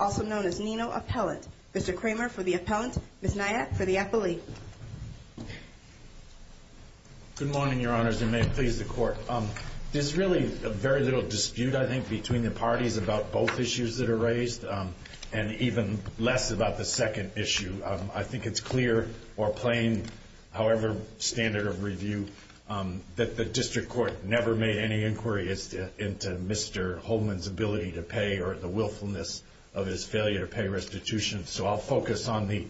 also known as Nino Appellant. Mr. Kramer for the Appellant, Ms. Nyack for the Appellee. Good morning, Your Honors, and may it please the Court. There's really very little dispute, I think, between the parties about both issues that are raised, and even less about the second issue. I think it's clear or plain, however strong the argument may be, that the two issues are the same. It's a standard of review that the District Court never made any inquiry into Mr. Holman's ability to pay or the willfulness of his failure to pay restitution. So I'll focus on the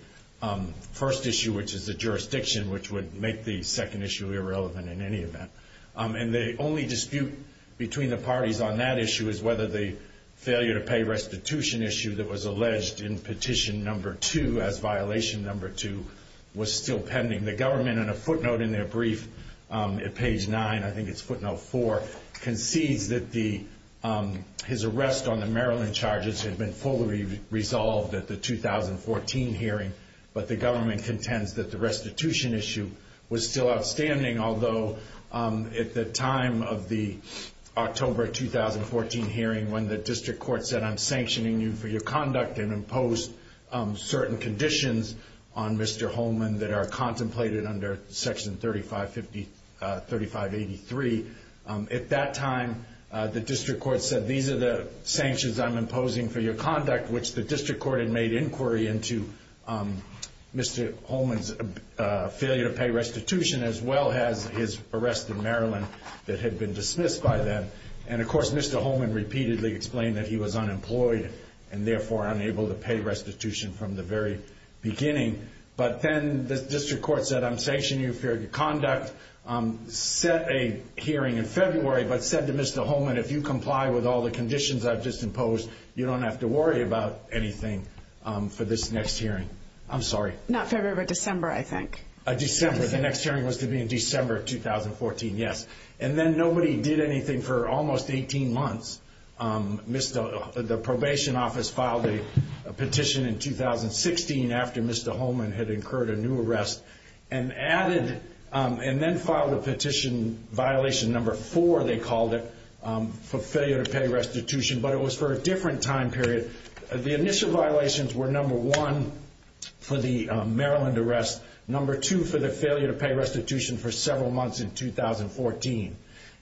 first issue, which is the jurisdiction, which would make the second issue irrelevant in any event. And the only dispute between the parties on that issue is whether the failure to pay restitution issue that was alleged in Petition No. 2, as Violation No. 2, was still pending. The government, in a footnote in their brief at page 9, I think it's footnote 4, concedes that his arrest on the Maryland charges had been fully resolved at the 2014 hearing, but the government contends that the restitution issue was still outstanding. Although, at the time of the October 2014 hearing, when the District Court said, I'm sanctioning you for your conduct and imposed certain conditions on Mr. Holman that are contemplated under Section 3583, at that time, the District Court said, these are the sanctions I'm imposing for your conduct, which the District Court had made inquiry into Mr. Holman's failure to pay restitution, as well as his arrest in Maryland that had been dismissed by them. And, of course, Mr. Holman repeatedly explained that he was unemployed and, therefore, unable to pay restitution from the very beginning. But then the District Court said, I'm sanctioning you for your conduct, set a hearing in February, but said to Mr. Holman, if you comply with all the conditions I've just imposed, you don't have to worry about anything for this next hearing. I'm sorry. Not February, but December, I think. December. The next hearing was to be in December 2014, yes. And then nobody did anything for almost 18 months. The probation office filed a petition in 2016 after Mr. Holman had incurred a new arrest and then filed a petition, violation number four, they called it, for failure to pay restitution, but it was for a different time period. The initial violations were number one for the Maryland arrest, number two for the failure to pay restitution for several months in 2014.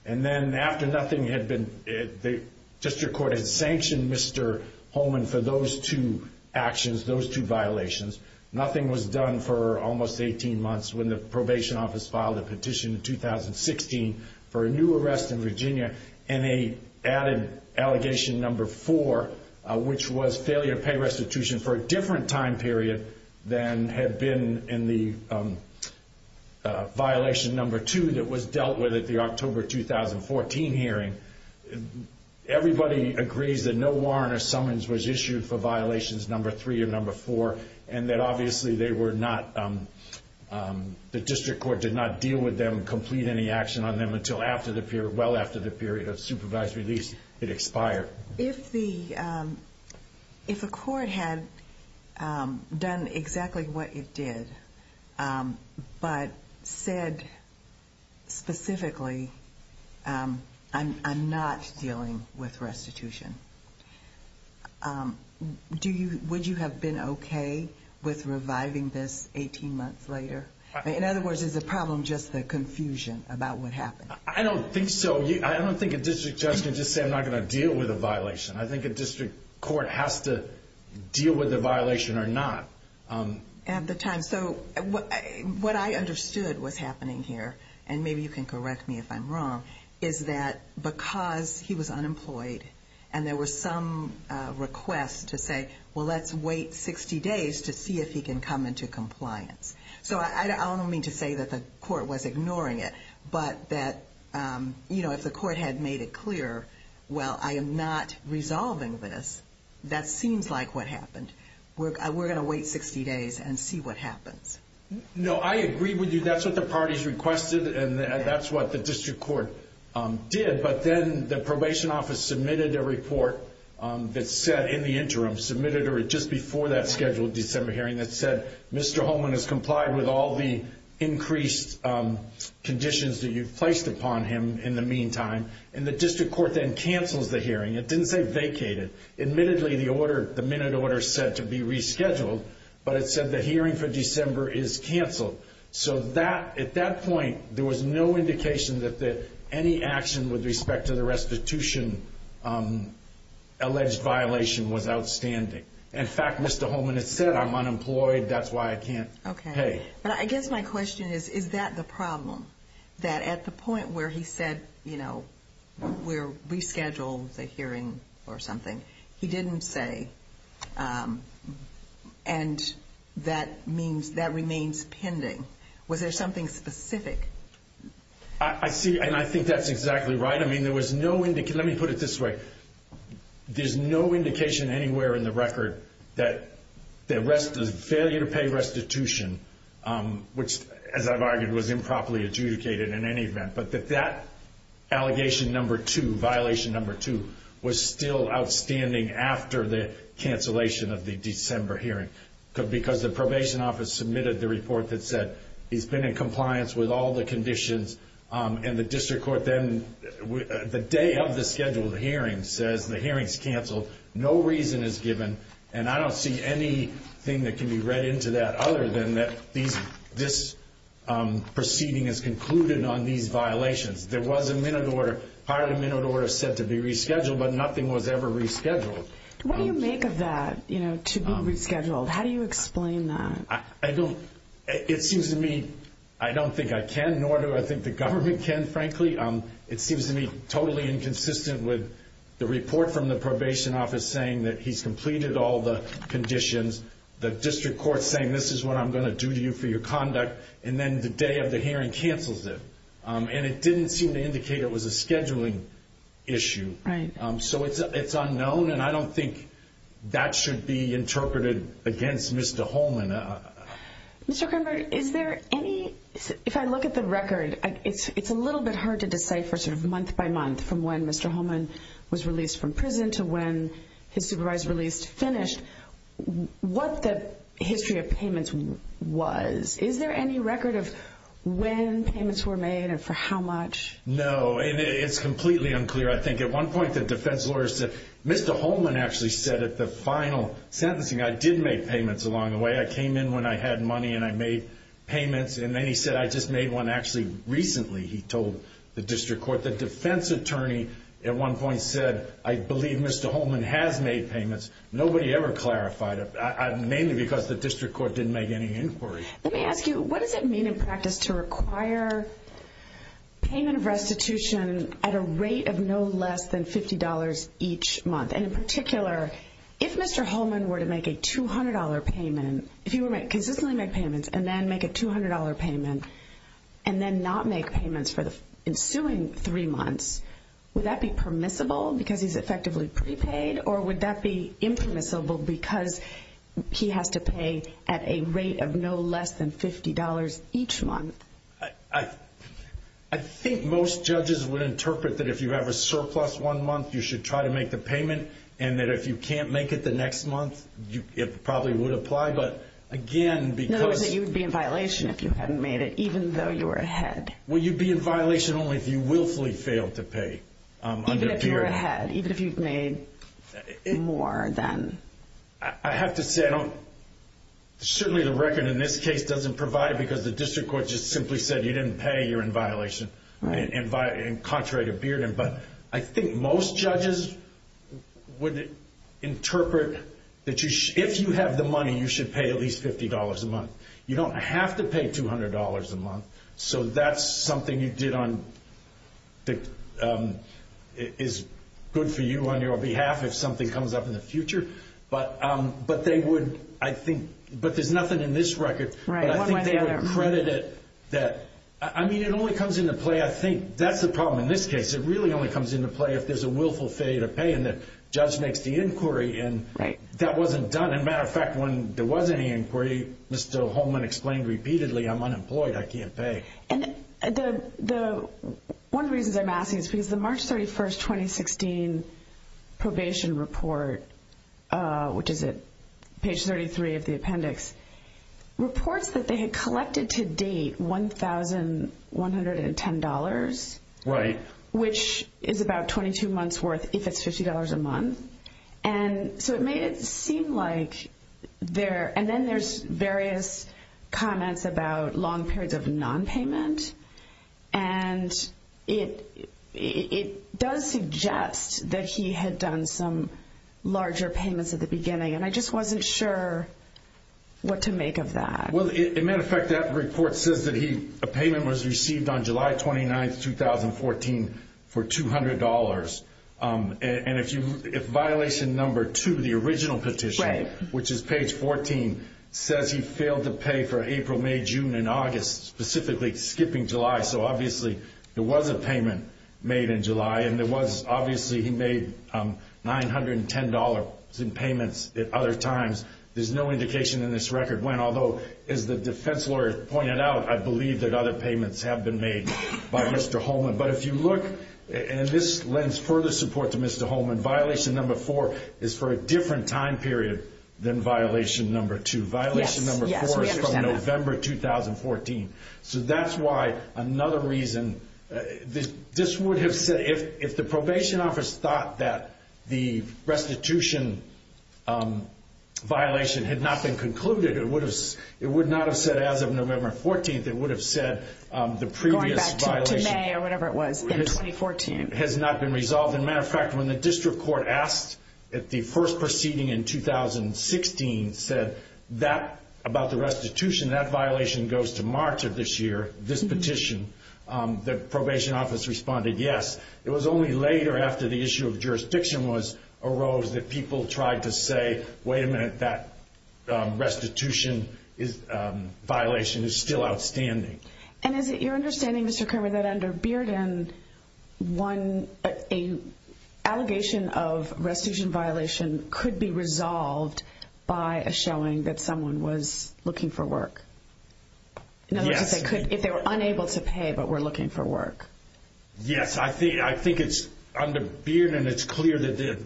And then after nothing had been, the District Court had sanctioned Mr. Holman for those two actions, those two violations. Nothing was done for almost 18 months when the probation office filed a petition in 2016 for a new arrest in Virginia and a added allegation number four, which was failure to pay restitution for a different time period than had been in the violation number two that was dealt with at the October 2014 hearing. Everybody agrees that no warrant or summons was issued for violations number three or number four and that obviously they were not, the District Court did not deal with them, complete any action on them until after the period, well after the period of supervised release, it expired. If a court had done exactly what it did, but said specifically, I'm not dealing with restitution, would you have been okay with reviving this 18 months later? In other words, is the problem just the confusion about what happened? I don't think so. I don't think a district judge can just say I'm not going to deal with a violation. I think a district court has to deal with the violation or not. At the time, so what I understood was happening here, and maybe you can correct me if I'm wrong, is that because he was unemployed and there was some request to say, well, let's wait 60 days to see if he can come into compliance. So I don't mean to say that the court was ignoring it, but that if the court had made it clear, well, I am not resolving this, that seems like what happened. We're going to wait 60 days and see what happens. No, I agree with you. That's what the parties requested, and that's what the district court did. But then the probation office submitted a report that said in the interim, submitted just before that scheduled December hearing, that said Mr. Holman has complied with all the increased conditions that you've placed upon him in the meantime. And the district court then cancels the hearing. It didn't say vacated. Admittedly, the minute order said to be rescheduled, but it said the hearing for December is canceled. So at that point, there was no indication that any action with respect to the restitution alleged violation was outstanding. In fact, Mr. Holman has said I'm unemployed. That's why I can't pay. But I guess my question is, is that the problem? That at the point where he said, you know, we're rescheduled the hearing or something, he didn't say. And that means that remains pending. Was there something specific? I see. And I think that's exactly right. I mean, there was no indication. Let me put it this way. There's no indication anywhere in the record that the rest of the failure to pay restitution, which, as I've argued, was improperly adjudicated in any event, but that that allegation number two, violation number two, was still outstanding after the cancellation of the December hearing. Because the probation office submitted the report that said he's been in compliance with all the conditions in the district court. Then the day of the scheduled hearing says the hearing's canceled. No reason is given. And I don't see anything that can be read into that other than that. This proceeding is concluded on these violations. There was a minute order. Part of the minute order said to be rescheduled, but nothing was ever rescheduled. What do you make of that, you know, to be rescheduled? How do you explain that? I don't. It seems to me I don't think I can, nor do I think the government can, frankly. It seems to me totally inconsistent with the report from the probation office saying that he's completed all the conditions. The district court saying this is what I'm going to do to you for your conduct. And then the day of the hearing cancels it. And it didn't seem to indicate it was a scheduling issue. So it's unknown. And I don't think that should be interpreted against Mr. Holman. Mr. Krenberg, is there any, if I look at the record, it's a little bit hard to decipher sort of month by month from when Mr. Holman was released from prison to when his supervisor released, finished, what the history of payments was. Is there any record of when payments were made and for how much? No. And it's completely unclear. I think at one point the defense lawyer said, Mr. Holman actually said at the final sentencing, I did make payments along the way. I came in when I had money and I made payments. And then he said, I just made one actually recently, he told the district court. The defense attorney at one point said, I believe Mr. Holman has made payments. Nobody ever clarified it. Mainly because the district court didn't make any inquiry. Let me ask you, what does it mean in practice to require payment of restitution at a rate of no less than $50 each month? And in particular, if Mr. Holman were to make a $200 payment, if he were to consistently make payments and then make a $200 payment and then not make payments for the ensuing three months, would that be permissible because he's effectively prepaid? Or would that be impermissible because he has to pay at a rate of no less than $50 each month? I think most judges would interpret that if you have a surplus one month, you should try to make the payment. And that if you can't make it the next month, it probably would apply. But again, because... In other words, you would be in violation if you hadn't made it, even though you were ahead. Well, you'd be in violation only if you willfully failed to pay. Even if you were ahead, even if you've made more than... I have to say, certainly the record in this case doesn't provide it because the district court just simply said you didn't pay, you're in violation, contrary to Bearden. But I think most judges would interpret that if you have the money, you should pay at least $50 a month. You don't have to pay $200 a month, so that's something you did on... is good for you on your behalf if something comes up in the future. But they would, I think... but there's nothing in this record... Right, one way or the other. But I think they would credit it that... I mean, it only comes into play, I think, that's the problem in this case. It really only comes into play if there's a willful failure to pay and the judge makes the inquiry and that wasn't done. And as a matter of fact, when there was any inquiry, Mr. Holman explained repeatedly, I'm unemployed, I can't pay. And the... one of the reasons I'm asking is because the March 31st, 2016 probation report, which is at page 33 of the appendix, reports that they had collected to date $1,110. Right. Which is about 22 months worth if it's $50 a month. And so it made it seem like there... and then there's various comments about long periods of non-payment. And it does suggest that he had done some larger payments at the beginning and I just wasn't sure what to make of that. Well, as a matter of fact, that report says that he... a payment was received on July 29th, 2014 for $200. And if violation number two, the original petition, which is page 14, says he failed to pay for April, May, June, and August, specifically skipping July. So obviously there was a payment made in July and there was... obviously he made $910 in payments at other times. There's no indication in this record when, although as the defense lawyer pointed out, I believe that other payments have been made by Mr. Holman. But if you look, and this lends further support to Mr. Holman, violation number four is for a different time period than violation number two. Yes, yes, we understand that. Violation number four is from November, 2014. So that's why another reason... this would have said... if the probation office thought that the restitution violation had not been concluded, it would not have said as of November 14th, it would have said the previous violation... Going back to May or whatever it was in 2014. ...has not been resolved. As a matter of fact, when the district court asked at the first proceeding in 2016 said that about the restitution, that violation goes to March of this year, this petition, the probation office responded yes. It was only later after the issue of jurisdiction arose that people tried to say, wait a minute, that restitution violation is still outstanding. And is it your understanding, Mr. Kerman, that under Bearden, a allegation of restitution violation could be resolved by a showing that someone was looking for work? Yes. In other words, if they were unable to pay but were looking for work. Yes, I think it's under Bearden, it's clear that the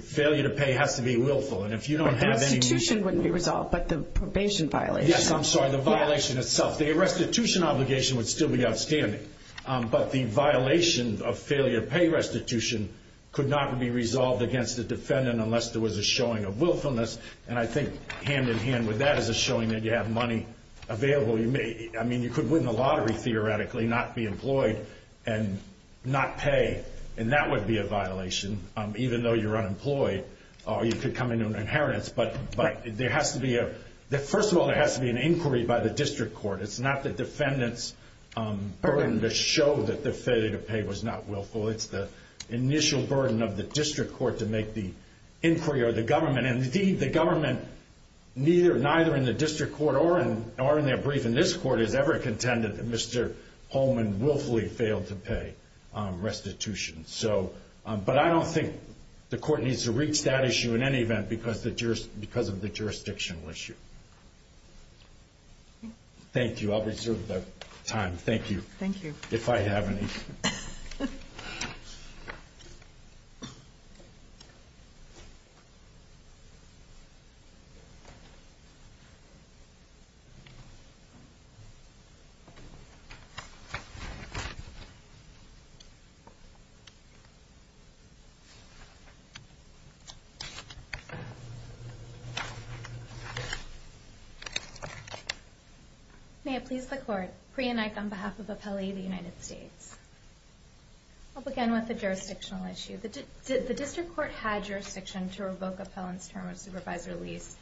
failure to pay has to be willful. And if you don't have any... The restitution wouldn't be resolved, but the probation violation... The restitution obligation would still be outstanding. But the violation of failure to pay restitution could not be resolved against the defendant unless there was a showing of willfulness. And I think hand-in-hand with that is a showing that you have money available. I mean, you could win the lottery theoretically, not be employed and not pay, and that would be a violation, even though you're unemployed. Or you could come into an inheritance. But there has to be a... First of all, there has to be an inquiry by the district court. It's not the defendant's burden to show that the failure to pay was not willful. It's the initial burden of the district court to make the inquiry or the government. And indeed, the government, neither in the district court or in their brief in this court, has ever contended that Mr. Holman willfully failed to pay restitution. But I don't think the court needs to reach that issue in any event because of the jurisdictional issue. Thank you. I'll reserve the time. Thank you. Thank you. If I have any. May it please the court. Priya Naik on behalf of Appellee of the United States. I'll begin with the jurisdictional issue. The district court had jurisdiction to revoke Appellant's term of supervisor lease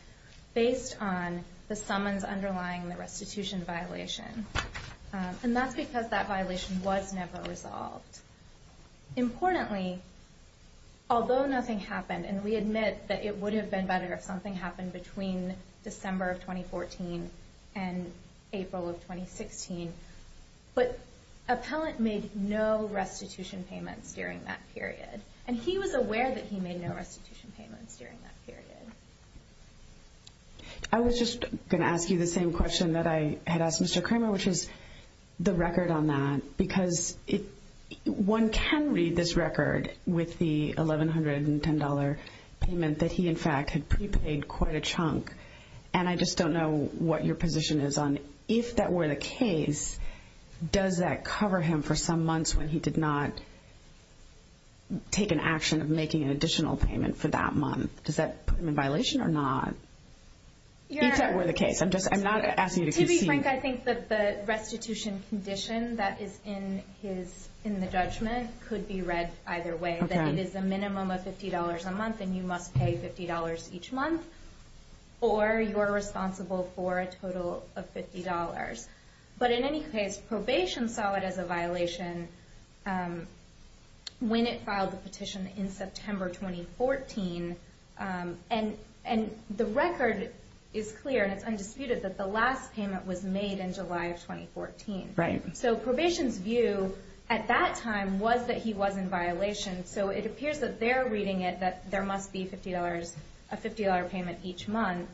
based on the summons underlying the restitution violation. And that's because that violation was never resolved. Importantly, although nothing happened, and we admit that it would have been better if something happened between December of 2014 and April of 2016, but Appellant made no restitution payments during that period. And he was aware that he made no restitution payments during that period. I was just going to ask you the same question that I had asked Mr. Kramer, which is the record on that. Because one can read this record with the $1,110 payment that he, in fact, had prepaid quite a chunk. And I just don't know what your position is on if that were the case, does that cover him for some months when he did not take an action of making an additional payment for that month? Does that put him in violation or not? If that were the case. I'm not asking you to concede. Frank, I think that the restitution condition that is in the judgment could be read either way, that it is a minimum of $50 a month and you must pay $50 each month, or you're responsible for a total of $50. But in any case, probation saw it as a violation when it filed the petition in September 2014. And the record is clear and it's undisputed that the last payment was made in July of 2014. So probation's view at that time was that he was in violation, so it appears that they're reading it that there must be a $50 payment each month.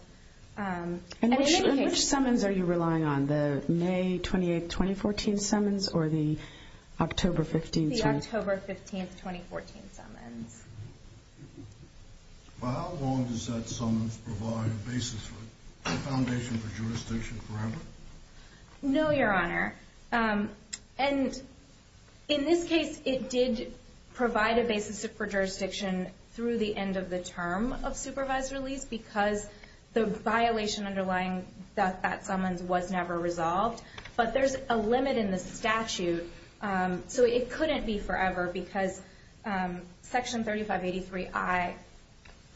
In which summons are you relying on, the May 28, 2014 summons or the October 15? Well, how long does that summons provide a basis for a foundation for jurisdiction forever? No, Your Honor. And in this case, it did provide a basis for jurisdiction through the end of the term of supervised release because the violation underlying that summons was never resolved. But there's a limit in the statute, so it couldn't be forever because Section 3583I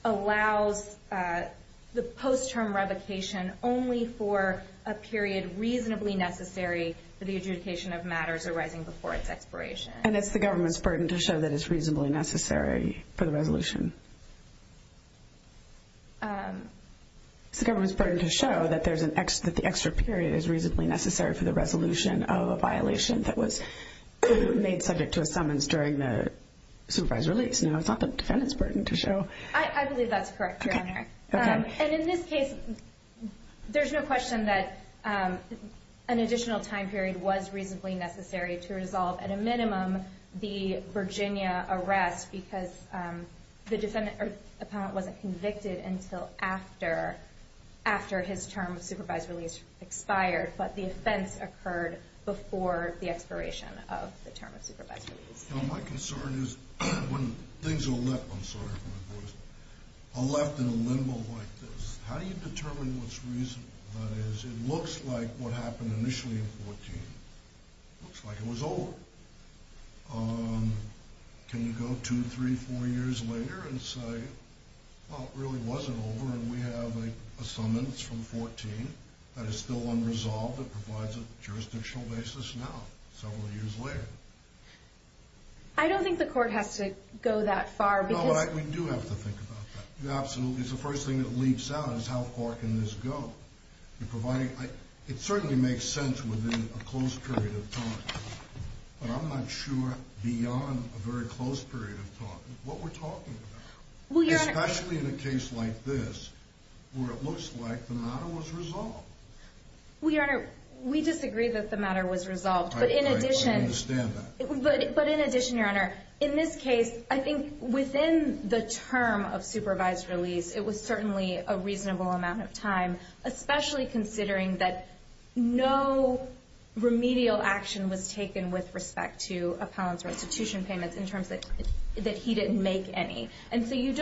allows the post-term revocation only for a period reasonably necessary for the adjudication of matters arising before its expiration. And it's the government's burden to show that it's reasonably necessary for the resolution? It's the government's burden to show that the extra period is reasonably necessary for the resolution of a violation that was made subject to a summons during the supervised release. No, it's not the defendant's burden to show. I believe that's correct, Your Honor. Okay. And in this case, there's no question that an additional time period was reasonably necessary to resolve, at a minimum, the Virginia arrest because the defendant wasn't convicted until after his term of supervised release expired. But the offense occurred before the expiration of the term of supervised release. My concern is when things are left, I'm sorry for my voice, are left in a limbo like this, how do you determine what's reasonable? That is, it looks like what happened initially in 14. It looks like it was over. Can you go two, three, four years later and say, well, it really wasn't over and we have a summons from 14 that is still unresolved that provides a jurisdictional basis now, several years later? I don't think the court has to go that far because No, we do have to think about that. Absolutely. It's the first thing that leaps out is how far can this go? It certainly makes sense within a closed period of time. But I'm not sure beyond a very closed period of time what we're talking about. Especially in a case like this where it looks like the matter was resolved. We disagree that the matter was resolved. I understand that. But in addition, Your Honor, in this case, I think within the term of supervised release, it was certainly a reasonable amount of time, especially considering that no remedial action was taken with respect to appellants or institution payments in terms that he didn't make any. And so we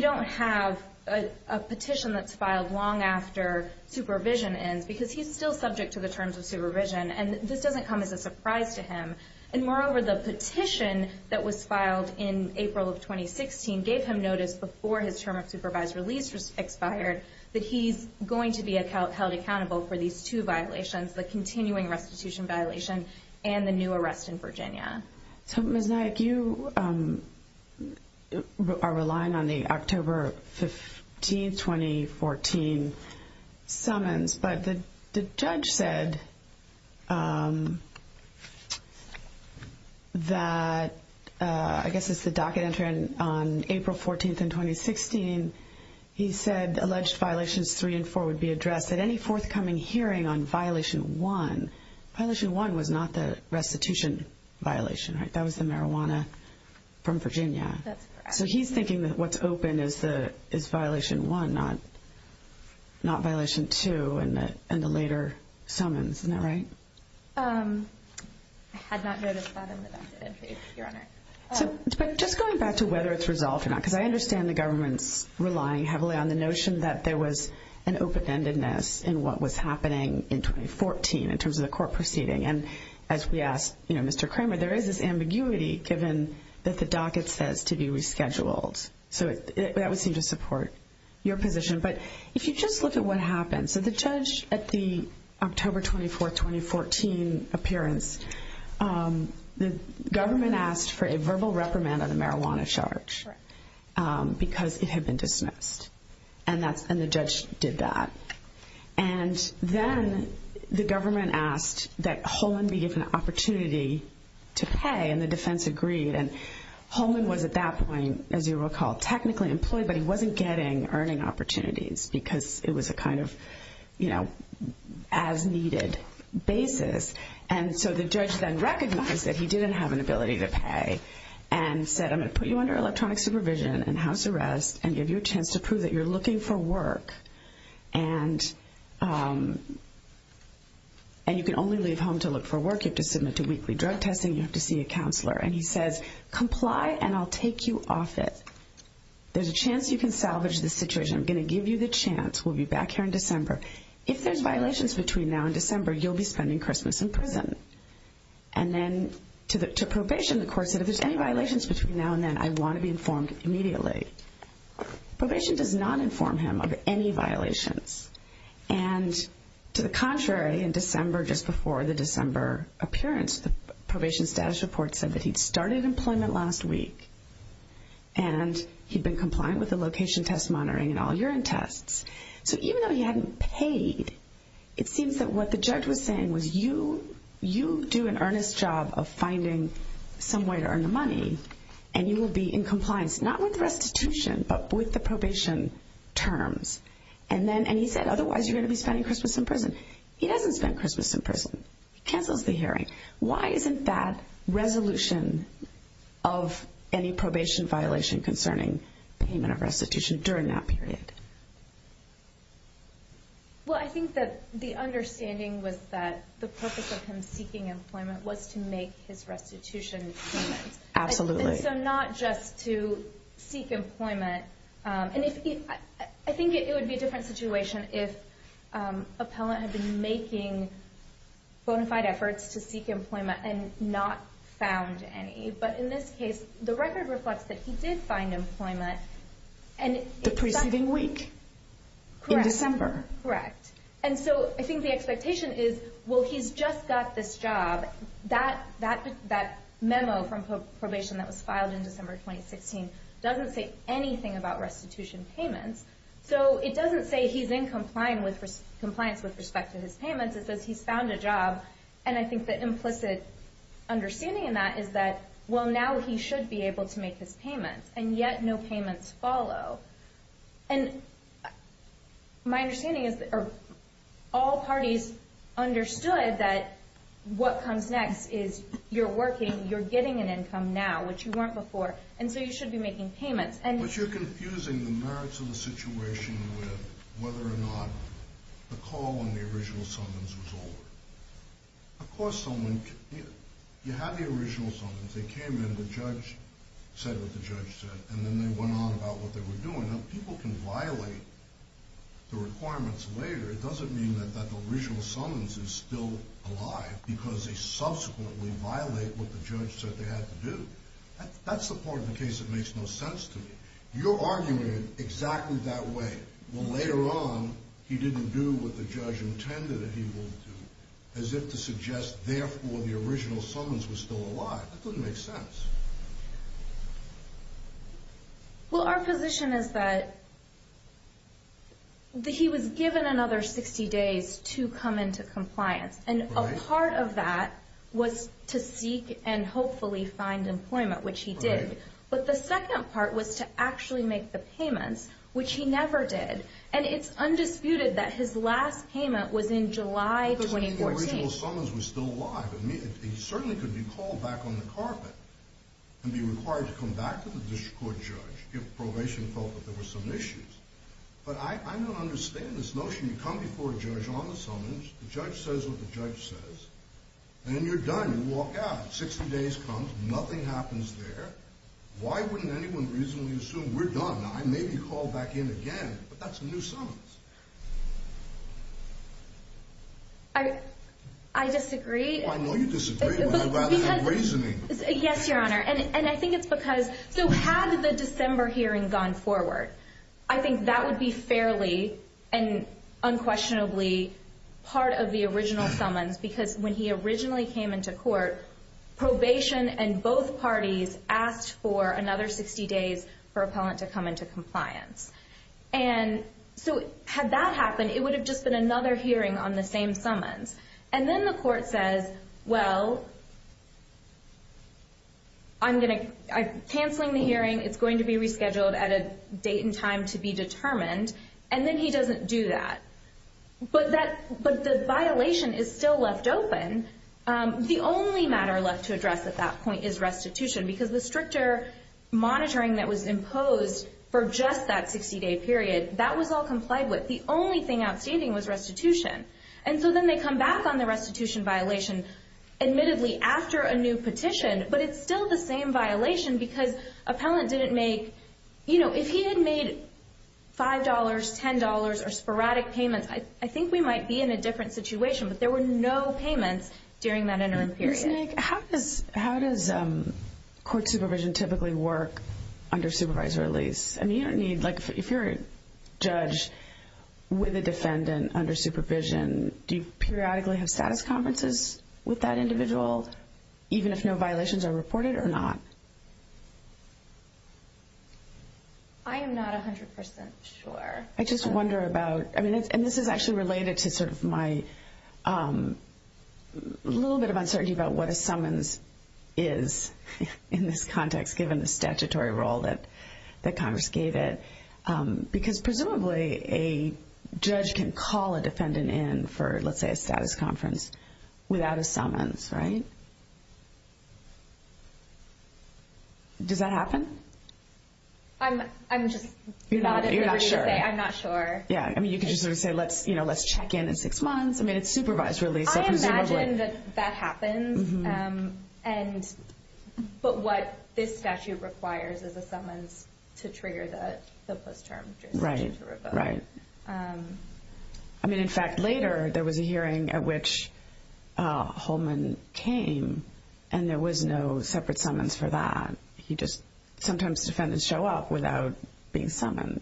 don't have a petition that's filed long after supervision ends because he's still subject to the terms of supervision. And this doesn't come as a surprise to him. And moreover, the petition that was filed in April of 2016 gave him notice before his term of supervised release expired that he's going to be held accountable for these two violations, the continuing restitution violation and the new arrest in Virginia. So, Ms. Naik, you are relying on the October 15, 2014 summons. But the judge said that, I guess it's the docket entering on April 14th in 2016, he said alleged violations three and four would be addressed at any forthcoming hearing on violation one. And violation one was not the restitution violation, right? That was the marijuana from Virginia. That's correct. So he's thinking that what's open is violation one, not violation two and the later summons, isn't that right? I had not noticed that in the docket entry, Your Honor. But just going back to whether it's resolved or not, because I understand the government's relying heavily on the notion that there was an open-endedness in what was happening in 2014 in terms of the court proceeding. And as we asked Mr. Kramer, there is this ambiguity given that the docket says to be rescheduled. So that would seem to support your position. But if you just look at what happened. So the judge at the October 24, 2014 appearance, the government asked for a verbal reprimand on the marijuana charge because it had been dismissed, and the judge did that. And then the government asked that Holman be given an opportunity to pay, and the defense agreed. And Holman was at that point, as you recall, technically employed, but he wasn't getting earning opportunities because it was a kind of, you know, as-needed basis. And so the judge then recognized that he didn't have an ability to pay and said, I'm going to put you under electronic supervision and house arrest and give you a chance to prove that you're looking for work. And you can only leave home to look for work. You have to submit to weekly drug testing. You have to see a counselor. And he says, comply, and I'll take you off it. There's a chance you can salvage this situation. I'm going to give you the chance. We'll be back here in December. If there's violations between now and December, you'll be spending Christmas in prison. And then to probation, the court said, if there's any violations between now and then, I want to be informed immediately. Probation does not inform him of any violations. And to the contrary, in December, just before the December appearance, the probation status report said that he'd started employment last week and he'd been compliant with the location test monitoring and all urine tests. So even though he hadn't paid, it seems that what the judge was saying was you do an earnest job of finding some way to earn the money and you will be in compliance, not with restitution but with the probation terms. And he said, otherwise you're going to be spending Christmas in prison. He doesn't spend Christmas in prison. He cancels the hearing. Why isn't that resolution of any probation violation concerning payment of restitution during that period? Well, I think that the understanding was that the purpose of him seeking employment was to make his restitution payments. Absolutely. And so not just to seek employment. And I think it would be a different situation if an appellant had been making bona fide efforts to seek employment and not found any. But in this case, the record reflects that he did find employment. The preceding week in December. Correct. And so I think the expectation is, well, he's just got this job. That memo from probation that was filed in December 2016 doesn't say anything about restitution payments. So it doesn't say he's in compliance with respect to his payments. It says he's found a job. And I think the implicit understanding in that is that, well, now he should be able to make his payments. And yet no payments follow. And my understanding is that all parties understood that what comes next is you're working, you're getting an income now, which you weren't before, and so you should be making payments. But you're confusing the merits of the situation with whether or not the call on the original summons was over. Of course someone could. You had the original summons. They came in, the judge said what the judge said, and then they went on about what they were doing. Now, people can violate the requirements later. It doesn't mean that the original summons is still alive because they subsequently violate what the judge said they had to do. That's the part of the case that makes no sense to me. You're arguing it exactly that way. Well, later on, he didn't do what the judge intended that he will do, as if to suggest, therefore, the original summons was still alive. That doesn't make sense. Well, our position is that he was given another 60 days to come into compliance, and a part of that was to seek and hopefully find employment, which he did. But the second part was to actually make the payments, which he never did. And it's undisputed that his last payment was in July 2014. Because the original summons was still alive. He certainly could be called back on the carpet and be required to come back to the district court judge if probation felt that there were some issues. But I don't understand this notion. You come before a judge on the summons, the judge says what the judge says, and you're done. You walk out. Sixty days comes. Nothing happens there. Why wouldn't anyone reasonably assume we're done? Now, I may be called back in again, but that's a new summons. I disagree. I know you disagree, but I'd rather have reasoning. Yes, Your Honor, and I think it's because so had the December hearing gone forward, I think that would be fairly and unquestionably part of the original summons because when he originally came into court, probation and both parties asked for another 60 days for appellant to come into compliance. And so had that happened, it would have just been another hearing on the same summons. And then the court says, well, I'm canceling the hearing. It's going to be rescheduled at a date and time to be determined. And then he doesn't do that. But the violation is still left open. The only matter left to address at that point is restitution because the stricter monitoring that was imposed for just that 60-day period, that was all complied with. The only thing outstanding was restitution. And so then they come back on the restitution violation, admittedly after a new petition, but it's still the same violation because appellant didn't make, you know, if he had made $5, $10, or sporadic payments, I think we might be in a different situation, but there were no payments during that interim period. Ms. Naig, how does court supervision typically work under supervisory release? I mean, you don't need, like if you're a judge with a defendant under supervision, do you periodically have status conferences with that individual, even if no violations are reported or not? I am not 100% sure. I just wonder about, and this is actually related to sort of my little bit of uncertainty about what a summons is in this context, given the statutory role that Congress gave it. Because presumably a judge can call a defendant in for, let's say, a status conference without a summons, right? Does that happen? I'm just not at liberty to say I'm not sure. Yeah, I mean, you could just sort of say let's check in in six months. I mean, it's supervised release, so presumably. I would imagine that that happens. But what this statute requires is a summons to trigger the post-term judicial review. Right. I mean, in fact, later there was a hearing at which Holman came, and there was no separate summons for that. He just sometimes defendants show up without being summoned.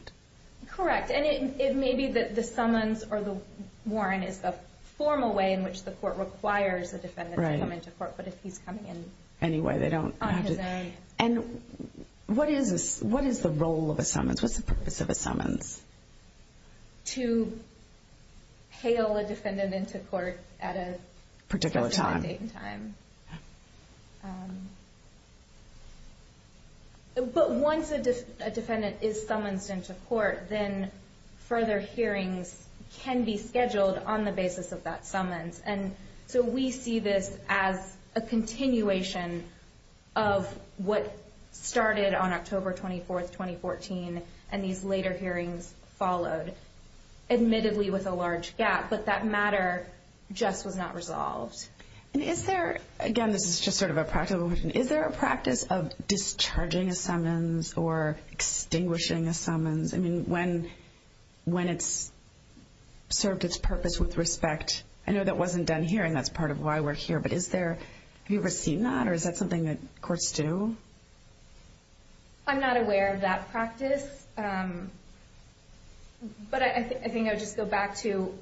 Correct. And it may be that the summons or the warrant is the formal way in which the court requires a defendant to come into court. But if he's coming in on his own. And what is the role of a summons? What's the purpose of a summons? To hail a defendant into court at a particular date and time. But once a defendant is summonsed into court, then further hearings can be scheduled on the basis of that summons. And so we see this as a continuation of what started on October 24, 2014, and these later hearings followed, admittedly with a large gap. But that matter just was not resolved. Again, this is just sort of a practical question. Is there a practice of discharging a summons or extinguishing a summons? I mean, when it's served its purpose with respect. I know that wasn't done here, and that's part of why we're here. But have you ever seen that, or is that something that courts do? I'm not aware of that practice. But I think I would just go back to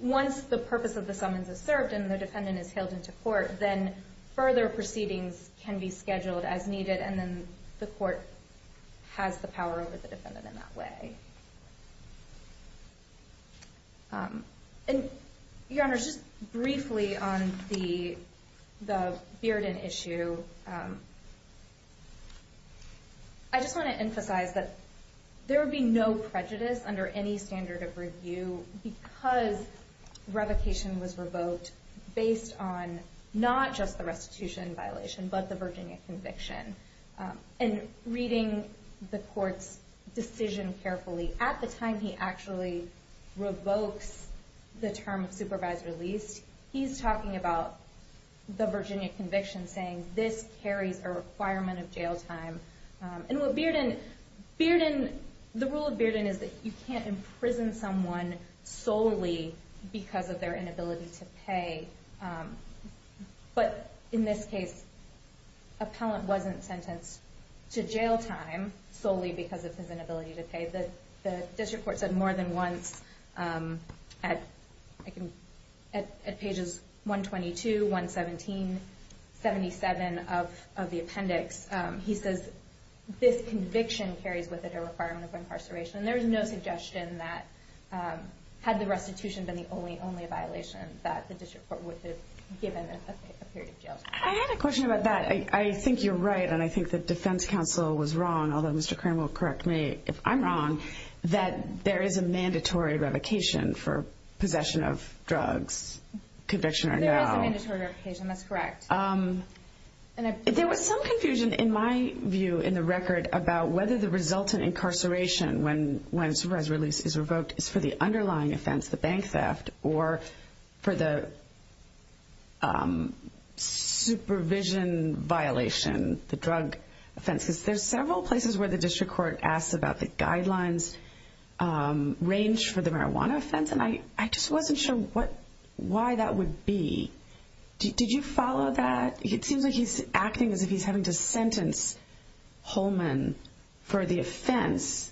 once the purpose of the summons is served and the defendant is hailed into court, then further proceedings can be scheduled as needed and then the court has the power over the defendant in that way. Your Honor, just briefly on the Bearden issue, I just want to emphasize that there would be no prejudice under any standard of review because revocation was revoked based on not just the restitution violation but the Virginia conviction. And reading the court's decision carefully, at the time he actually revokes the term of supervised release, he's talking about the Virginia conviction, saying this carries a requirement of jail time. And with Bearden, the rule of Bearden is that you can't imprison someone solely because of their inability to pay. But in this case, appellant wasn't sentenced to jail time solely because of his inability to pay. The district court said more than once at pages 122, 117, 77 of the appendix, he says this conviction carries with it a requirement of incarceration. And there is no suggestion that had the restitution been the only violation that the district court would have given a period of jail time. I had a question about that. I think you're right, and I think the defense counsel was wrong, although Mr. Kern will correct me if I'm wrong, that there is a mandatory revocation for possession of drugs, conviction or no. There is a mandatory revocation, that's correct. There was some confusion in my view in the record about whether the resultant incarceration when supervised release is revoked is for the underlying offense, the bank theft, or for the supervision violation, the drug offense. Because there's several places where the district court asks about the guidelines range for the marijuana offense, and I just wasn't sure why that would be. Did you follow that? It seems like he's acting as if he's having to sentence Holman for the offense,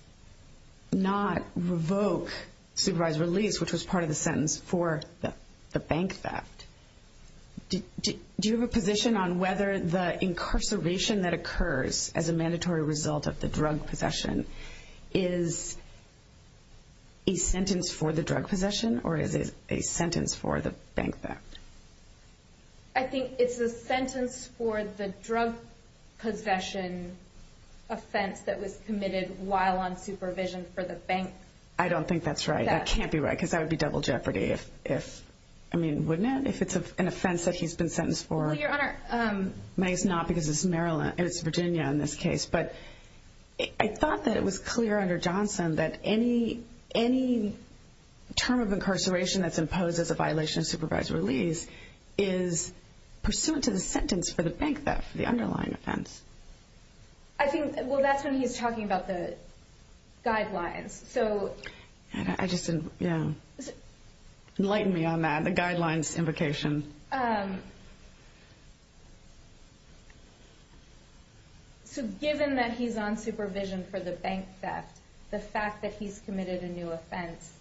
not revoke supervised release, which was part of the sentence for the bank theft. Do you have a position on whether the incarceration that occurs as a mandatory result of the drug possession is a sentence for the drug possession or is it a sentence for the bank theft? I think it's a sentence for the drug possession offense that was committed while on supervision for the bank theft. I don't think that's right. That can't be right because that would be double jeopardy. I mean, wouldn't it, if it's an offense that he's been sentenced for? Your Honor. It's not because it's Virginia in this case, but I thought that it was clear under Johnson that any term of incarceration that's imposed as a violation of supervised release is pursuant to the sentence for the bank theft, the underlying offense. Well, that's when he's talking about the guidelines. I just didn't, yeah. Enlighten me on that, the guidelines invocation. So given that he's on supervision for the bank theft, the fact that he's committed a new offense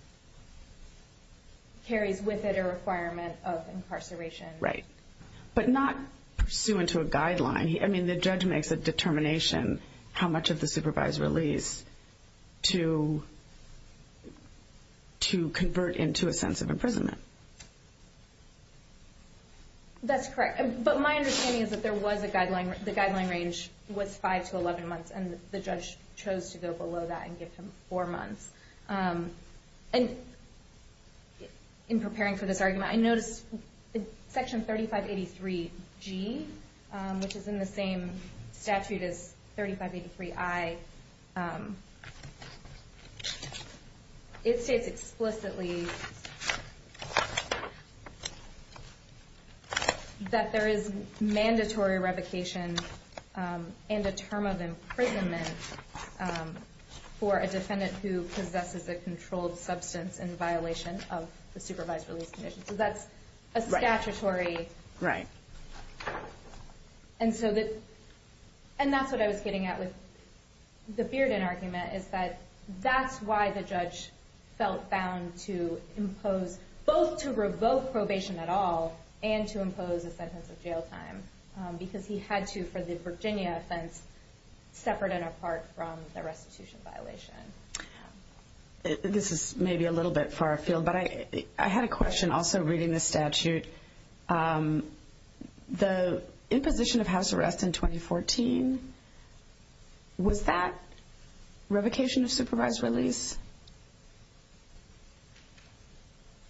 carries with it a requirement of incarceration. Right, but not pursuant to a guideline. I mean, the judge makes a determination how much of the supervised release to convert into a sense of imprisonment. That's correct. But my understanding is that there was a guideline. The guideline range was five to 11 months, and the judge chose to go below that and give him four months. And in preparing for this argument, I noticed Section 3583G, which is in the same statute as 3583I, it states explicitly that there is mandatory revocation and a term of imprisonment for a defendant who possesses a controlled substance in violation of the supervised release condition. So that's a statutory. And that's what I was getting at with the Bearden argument, is that that's why the judge felt bound to impose both to revoke probation at all and to impose a sentence of jail time, because he had to for the Virginia offense, separate and apart from the restitution violation. This is maybe a little bit far afield, but I had a question also reading the statute. The imposition of house arrest in 2014, was that revocation of supervised release?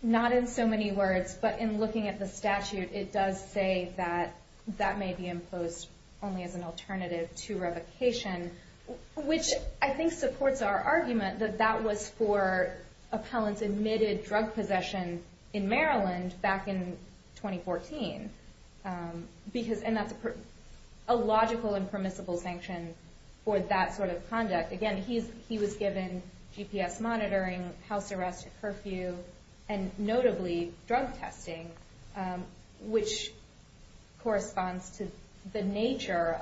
Not in so many words, but in looking at the statute, it does say that that may be imposed only as an alternative to revocation, which I think supports our argument that that was for appellants admitted drug possession in Maryland back in 2014. And that's a logical and permissible sanction for that sort of conduct. Again, he was given GPS monitoring, house arrest, curfew, and notably drug testing, which corresponds to the nature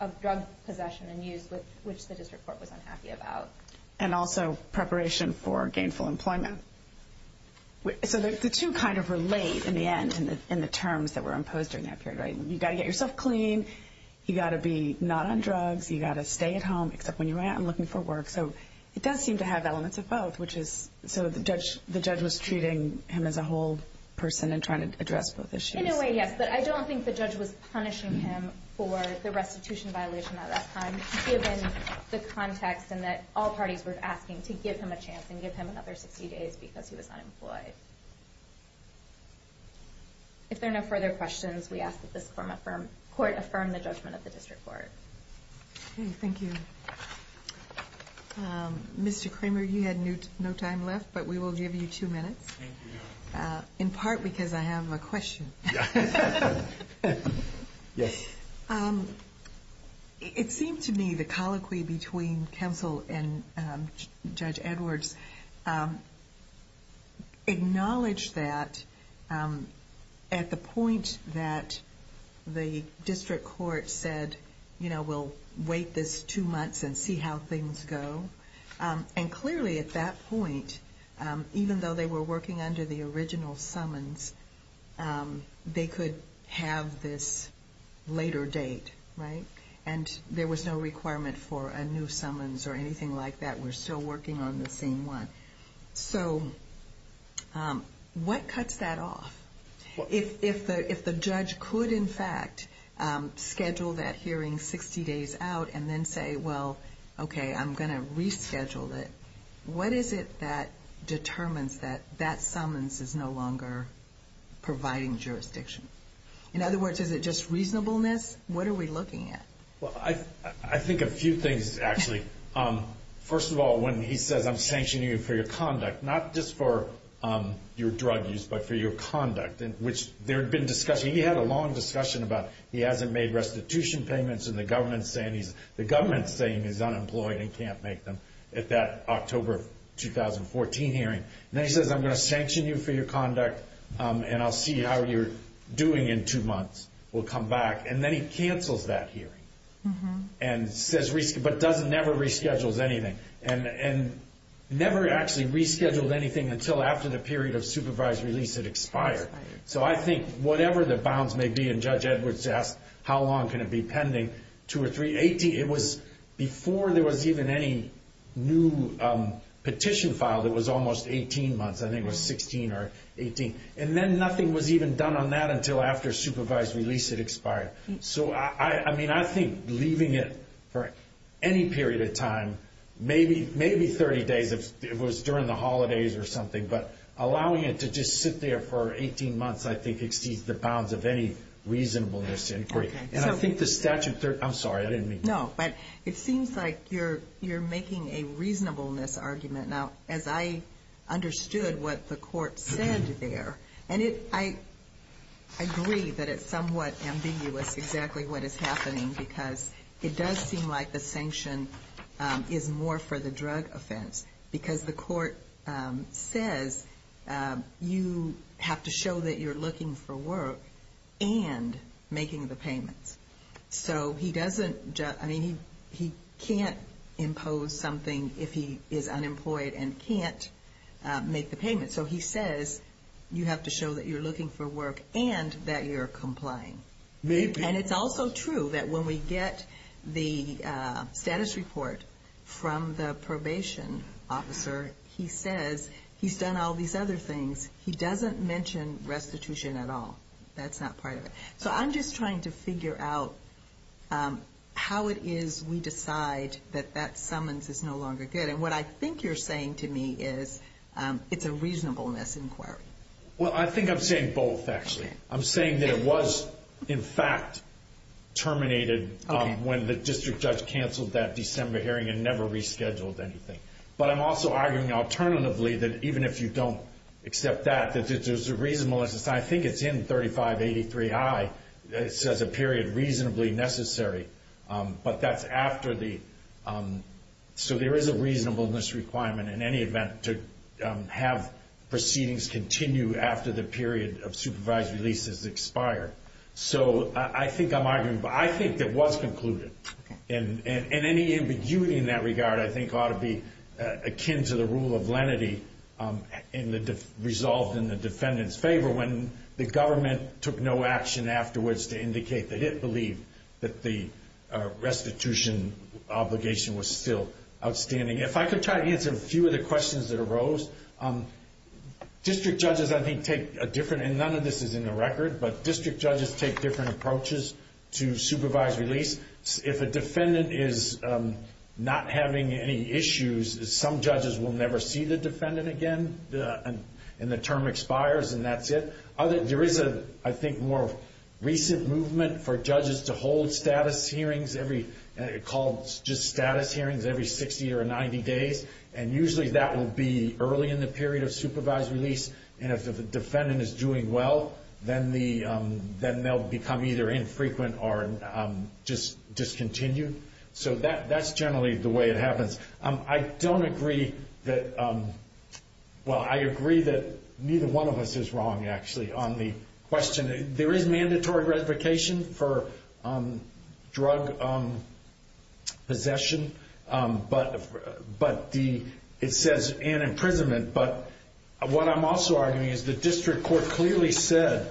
of drug possession and use which the district court was unhappy about. And also preparation for gainful employment. So the two kind of relate in the end in the terms that were imposed during that period. You've got to get yourself clean. You've got to be not on drugs. You've got to stay at home, except when you're out and looking for work. So it does seem to have elements of both, which is sort of the judge was treating him as a whole person and trying to address both issues. In a way, yes, but I don't think the judge was punishing him for the restitution violation at that time, given the context and that all parties were asking to give him a chance and give him another 60 days because he was unemployed. If there are no further questions, we ask that this court affirm the judgment of the district court. Okay, thank you. Mr. Kramer, you had no time left, but we will give you two minutes. Thank you. In part because I have a question. Yes. It seemed to me the colloquy between counsel and Judge Edwards acknowledged that at the point that the district court said, you know, we'll wait this two months and see how things go. And clearly at that point, even though they were working under the original summons, they could have this later date, right? And there was no requirement for a new summons or anything like that. We're still working on the same one. So what cuts that off? If the judge could, in fact, schedule that hearing 60 days out and then say, well, okay, I'm going to reschedule it, what is it that determines that that summons is no longer providing jurisdiction? In other words, is it just reasonableness? What are we looking at? I think a few things, actually. First of all, when he says I'm sanctioning you for your conduct, not just for your drug use but for your conduct, which there had been discussion. He had a long discussion about he hasn't made restitution payments and the government's saying he's unemployed and can't make them at that October 2014 hearing. And then he says I'm going to sanction you for your conduct and I'll see how you're doing in two months. We'll come back. And then he cancels that hearing but never reschedules anything. Never actually rescheduled anything until after the period of supervised release it expired. So I think whatever the bounds may be, and Judge Edwards asked how long can it be pending, two or three, before there was even any new petition filed it was almost 18 months. I think it was 16 or 18. And then nothing was even done on that until after supervised release it expired. So, I mean, I think leaving it for any period of time, maybe 30 days if it was during the holidays or something, but allowing it to just sit there for 18 months I think exceeds the bounds of any reasonableness inquiry. And I think the statute, I'm sorry, I didn't mean to. No, but it seems like you're making a reasonableness argument. Now, as I understood what the court said there, and I agree that it's somewhat ambiguous exactly what is happening because it does seem like the sanction is more for the drug offense because the court says you have to show that you're looking for work and making the payments. So he doesn't, I mean, he can't impose something if he is unemployed and can't make the payment. So he says you have to show that you're looking for work and that you're complying. And it's also true that when we get the status report from the probation officer, he says he's done all these other things. He doesn't mention restitution at all. That's not part of it. So I'm just trying to figure out how it is we decide that that summons is no longer good. And what I think you're saying to me is it's a reasonableness inquiry. Well, I think I'm saying both, actually. I'm saying that it was, in fact, terminated when the district judge canceled that December hearing and never rescheduled anything. But I'm also arguing alternatively that even if you don't accept that, that there's a reasonableness. I think it's in 3583I. It says a period reasonably necessary. But that's after the... So there is a reasonableness requirement in any event to have proceedings continue after the period of supervised release has expired. So I think I'm arguing... I think it was concluded. And any ambiguity in that regard, I think, ought to be akin to the rule of lenity resolved in the defendant's favor when the government took no action afterwards to indicate that it believed that the restitution obligation was still outstanding. If I could try to answer a few of the questions that arose. District judges, I think, take a different... And none of this is in the record, but district judges take different approaches to supervised release. If a defendant is not having any issues, some judges will never see the defendant again and the term expires and that's it. There is, I think, a more recent movement for judges to hold status hearings every... It's called just status hearings every 60 or 90 days. And usually that will be early in the period of supervised release. And if the defendant is doing well, then they'll become either infrequent or discontinued. So that's generally the way it happens. I don't agree that... Actually, on the question, there is mandatory retribution for drug possession, but it says, and imprisonment. But what I'm also arguing is the district court clearly said,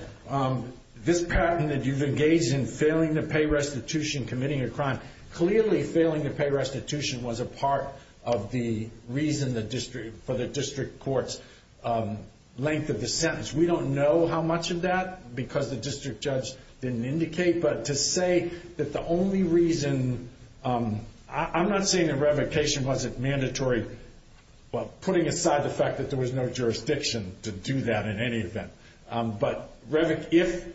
this patent that you've engaged in, failing to pay restitution, committing a crime, clearly failing to pay restitution was a part of the reason for the district court's length of the sentence. We don't know how much of that, because the district judge didn't indicate. But to say that the only reason... I'm not saying that revocation wasn't mandatory, but putting aside the fact that there was no jurisdiction to do that in any event. But if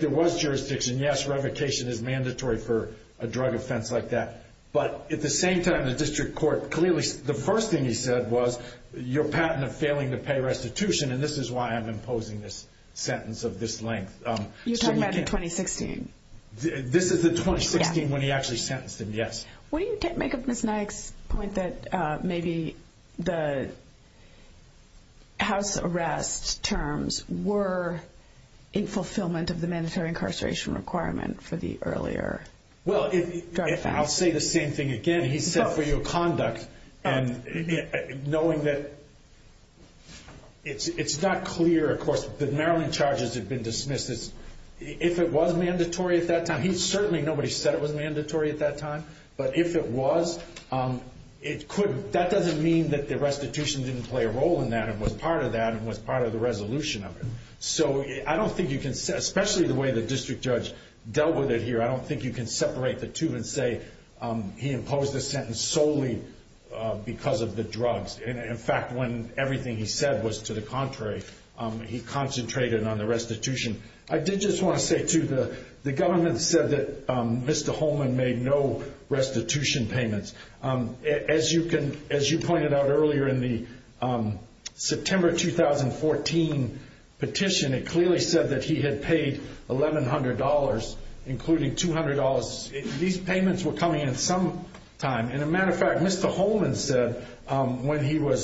there was jurisdiction, yes, revocation is mandatory for a drug offense like that. But at the same time, the district court clearly... The first thing he said was, your patent of failing to pay restitution, and this is why I'm imposing this sentence of this length. You're talking about the 2016? This is the 2016 when he actually sentenced him, yes. What do you make of Ms. Nyack's point that maybe the house arrest terms were in fulfillment of the mandatory incarceration requirement for the earlier drug offense? I'll say the same thing again. He said for your conduct, knowing that it's not clear, of course, that Maryland charges have been dismissed. If it was mandatory at that time, certainly nobody said it was mandatory at that time, but if it was, that doesn't mean that the restitution didn't play a role in that and was part of that and was part of the resolution of it. So I don't think you can say, especially the way the district judge dealt with it here, I don't think you can separate the two and say he imposed the sentence solely because of the drugs. In fact, when everything he said was to the contrary, he concentrated on the restitution. I did just want to say, too, the government said that Mr. Holman made no restitution payments. As you pointed out earlier in the September 2014 petition, it clearly said that he had paid $1,100, including $200. These payments were coming in at some time. As a matter of fact, Mr. Holman said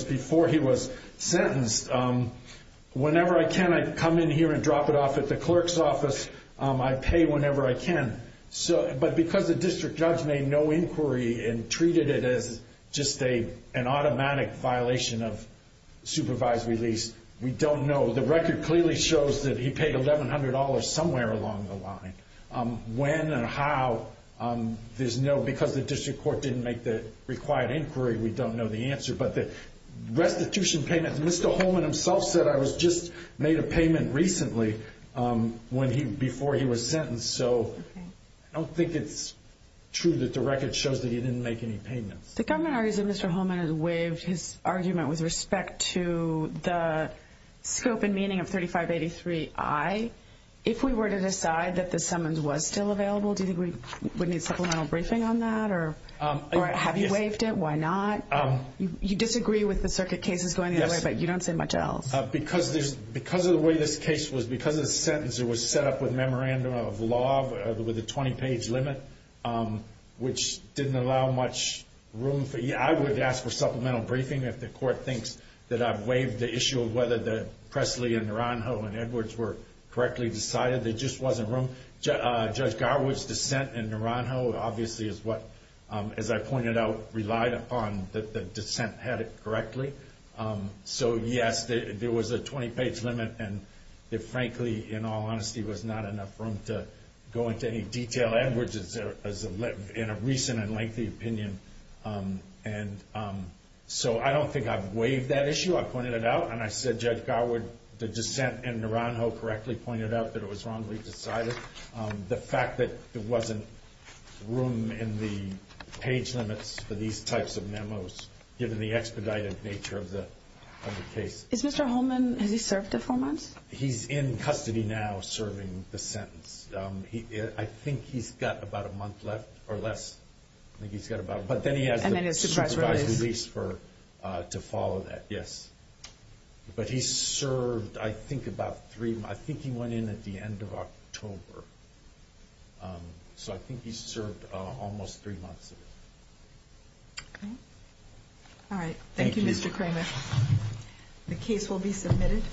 before he was sentenced, whenever I can, I come in here and drop it off at the clerk's office. I pay whenever I can. But because the district judge made no inquiry and treated it as just an automatic violation of supervised release, we don't know. The record clearly shows that he paid $1,100 somewhere along the line. When and how, because the district court didn't make the required inquiry, we don't know the answer. But the restitution payments, Mr. Holman himself said, I just made a payment recently before he was sentenced. So I don't think it's true that the record shows that he didn't make any payments. The government argues that Mr. Holman has waived his argument with respect to the scope and meaning of 3583I. If we were to decide that the summons was still available, do you think we would need supplemental briefing on that? Or have you waived it? Why not? You disagree with the circuit cases going either way, but you don't say much else. Because of the way this case was, because the sentence was set up with a memorandum of law with a 20-page limit, which didn't allow much room. I would ask for supplemental briefing if the court thinks that I've waived the issue of whether the Presley and Naranjo and Edwards were correctly decided. There just wasn't room. Judge Garwood's dissent in Naranjo obviously is what, as I pointed out, relied upon that the dissent had it correctly. So, yes, there was a 20-page limit. And frankly, in all honesty, there was not enough room to go into any detail. Edwards is in a recent and lengthy opinion. So I don't think I've waived that issue. I pointed it out, and I said Judge Garwood, the dissent, and Naranjo correctly pointed out that it was wrongly decided. The fact that there wasn't room in the page limits for these types of memos, given the expedited nature of the case. Has Mr. Holman served a four months? He's in custody now serving the sentence. I think he's got about a month left or less. But then he has the supervised release to follow that, yes. But he served, I think, about three months. I think he went in at the end of October. So I think he served almost three months. Okay. All right. The case will be submitted.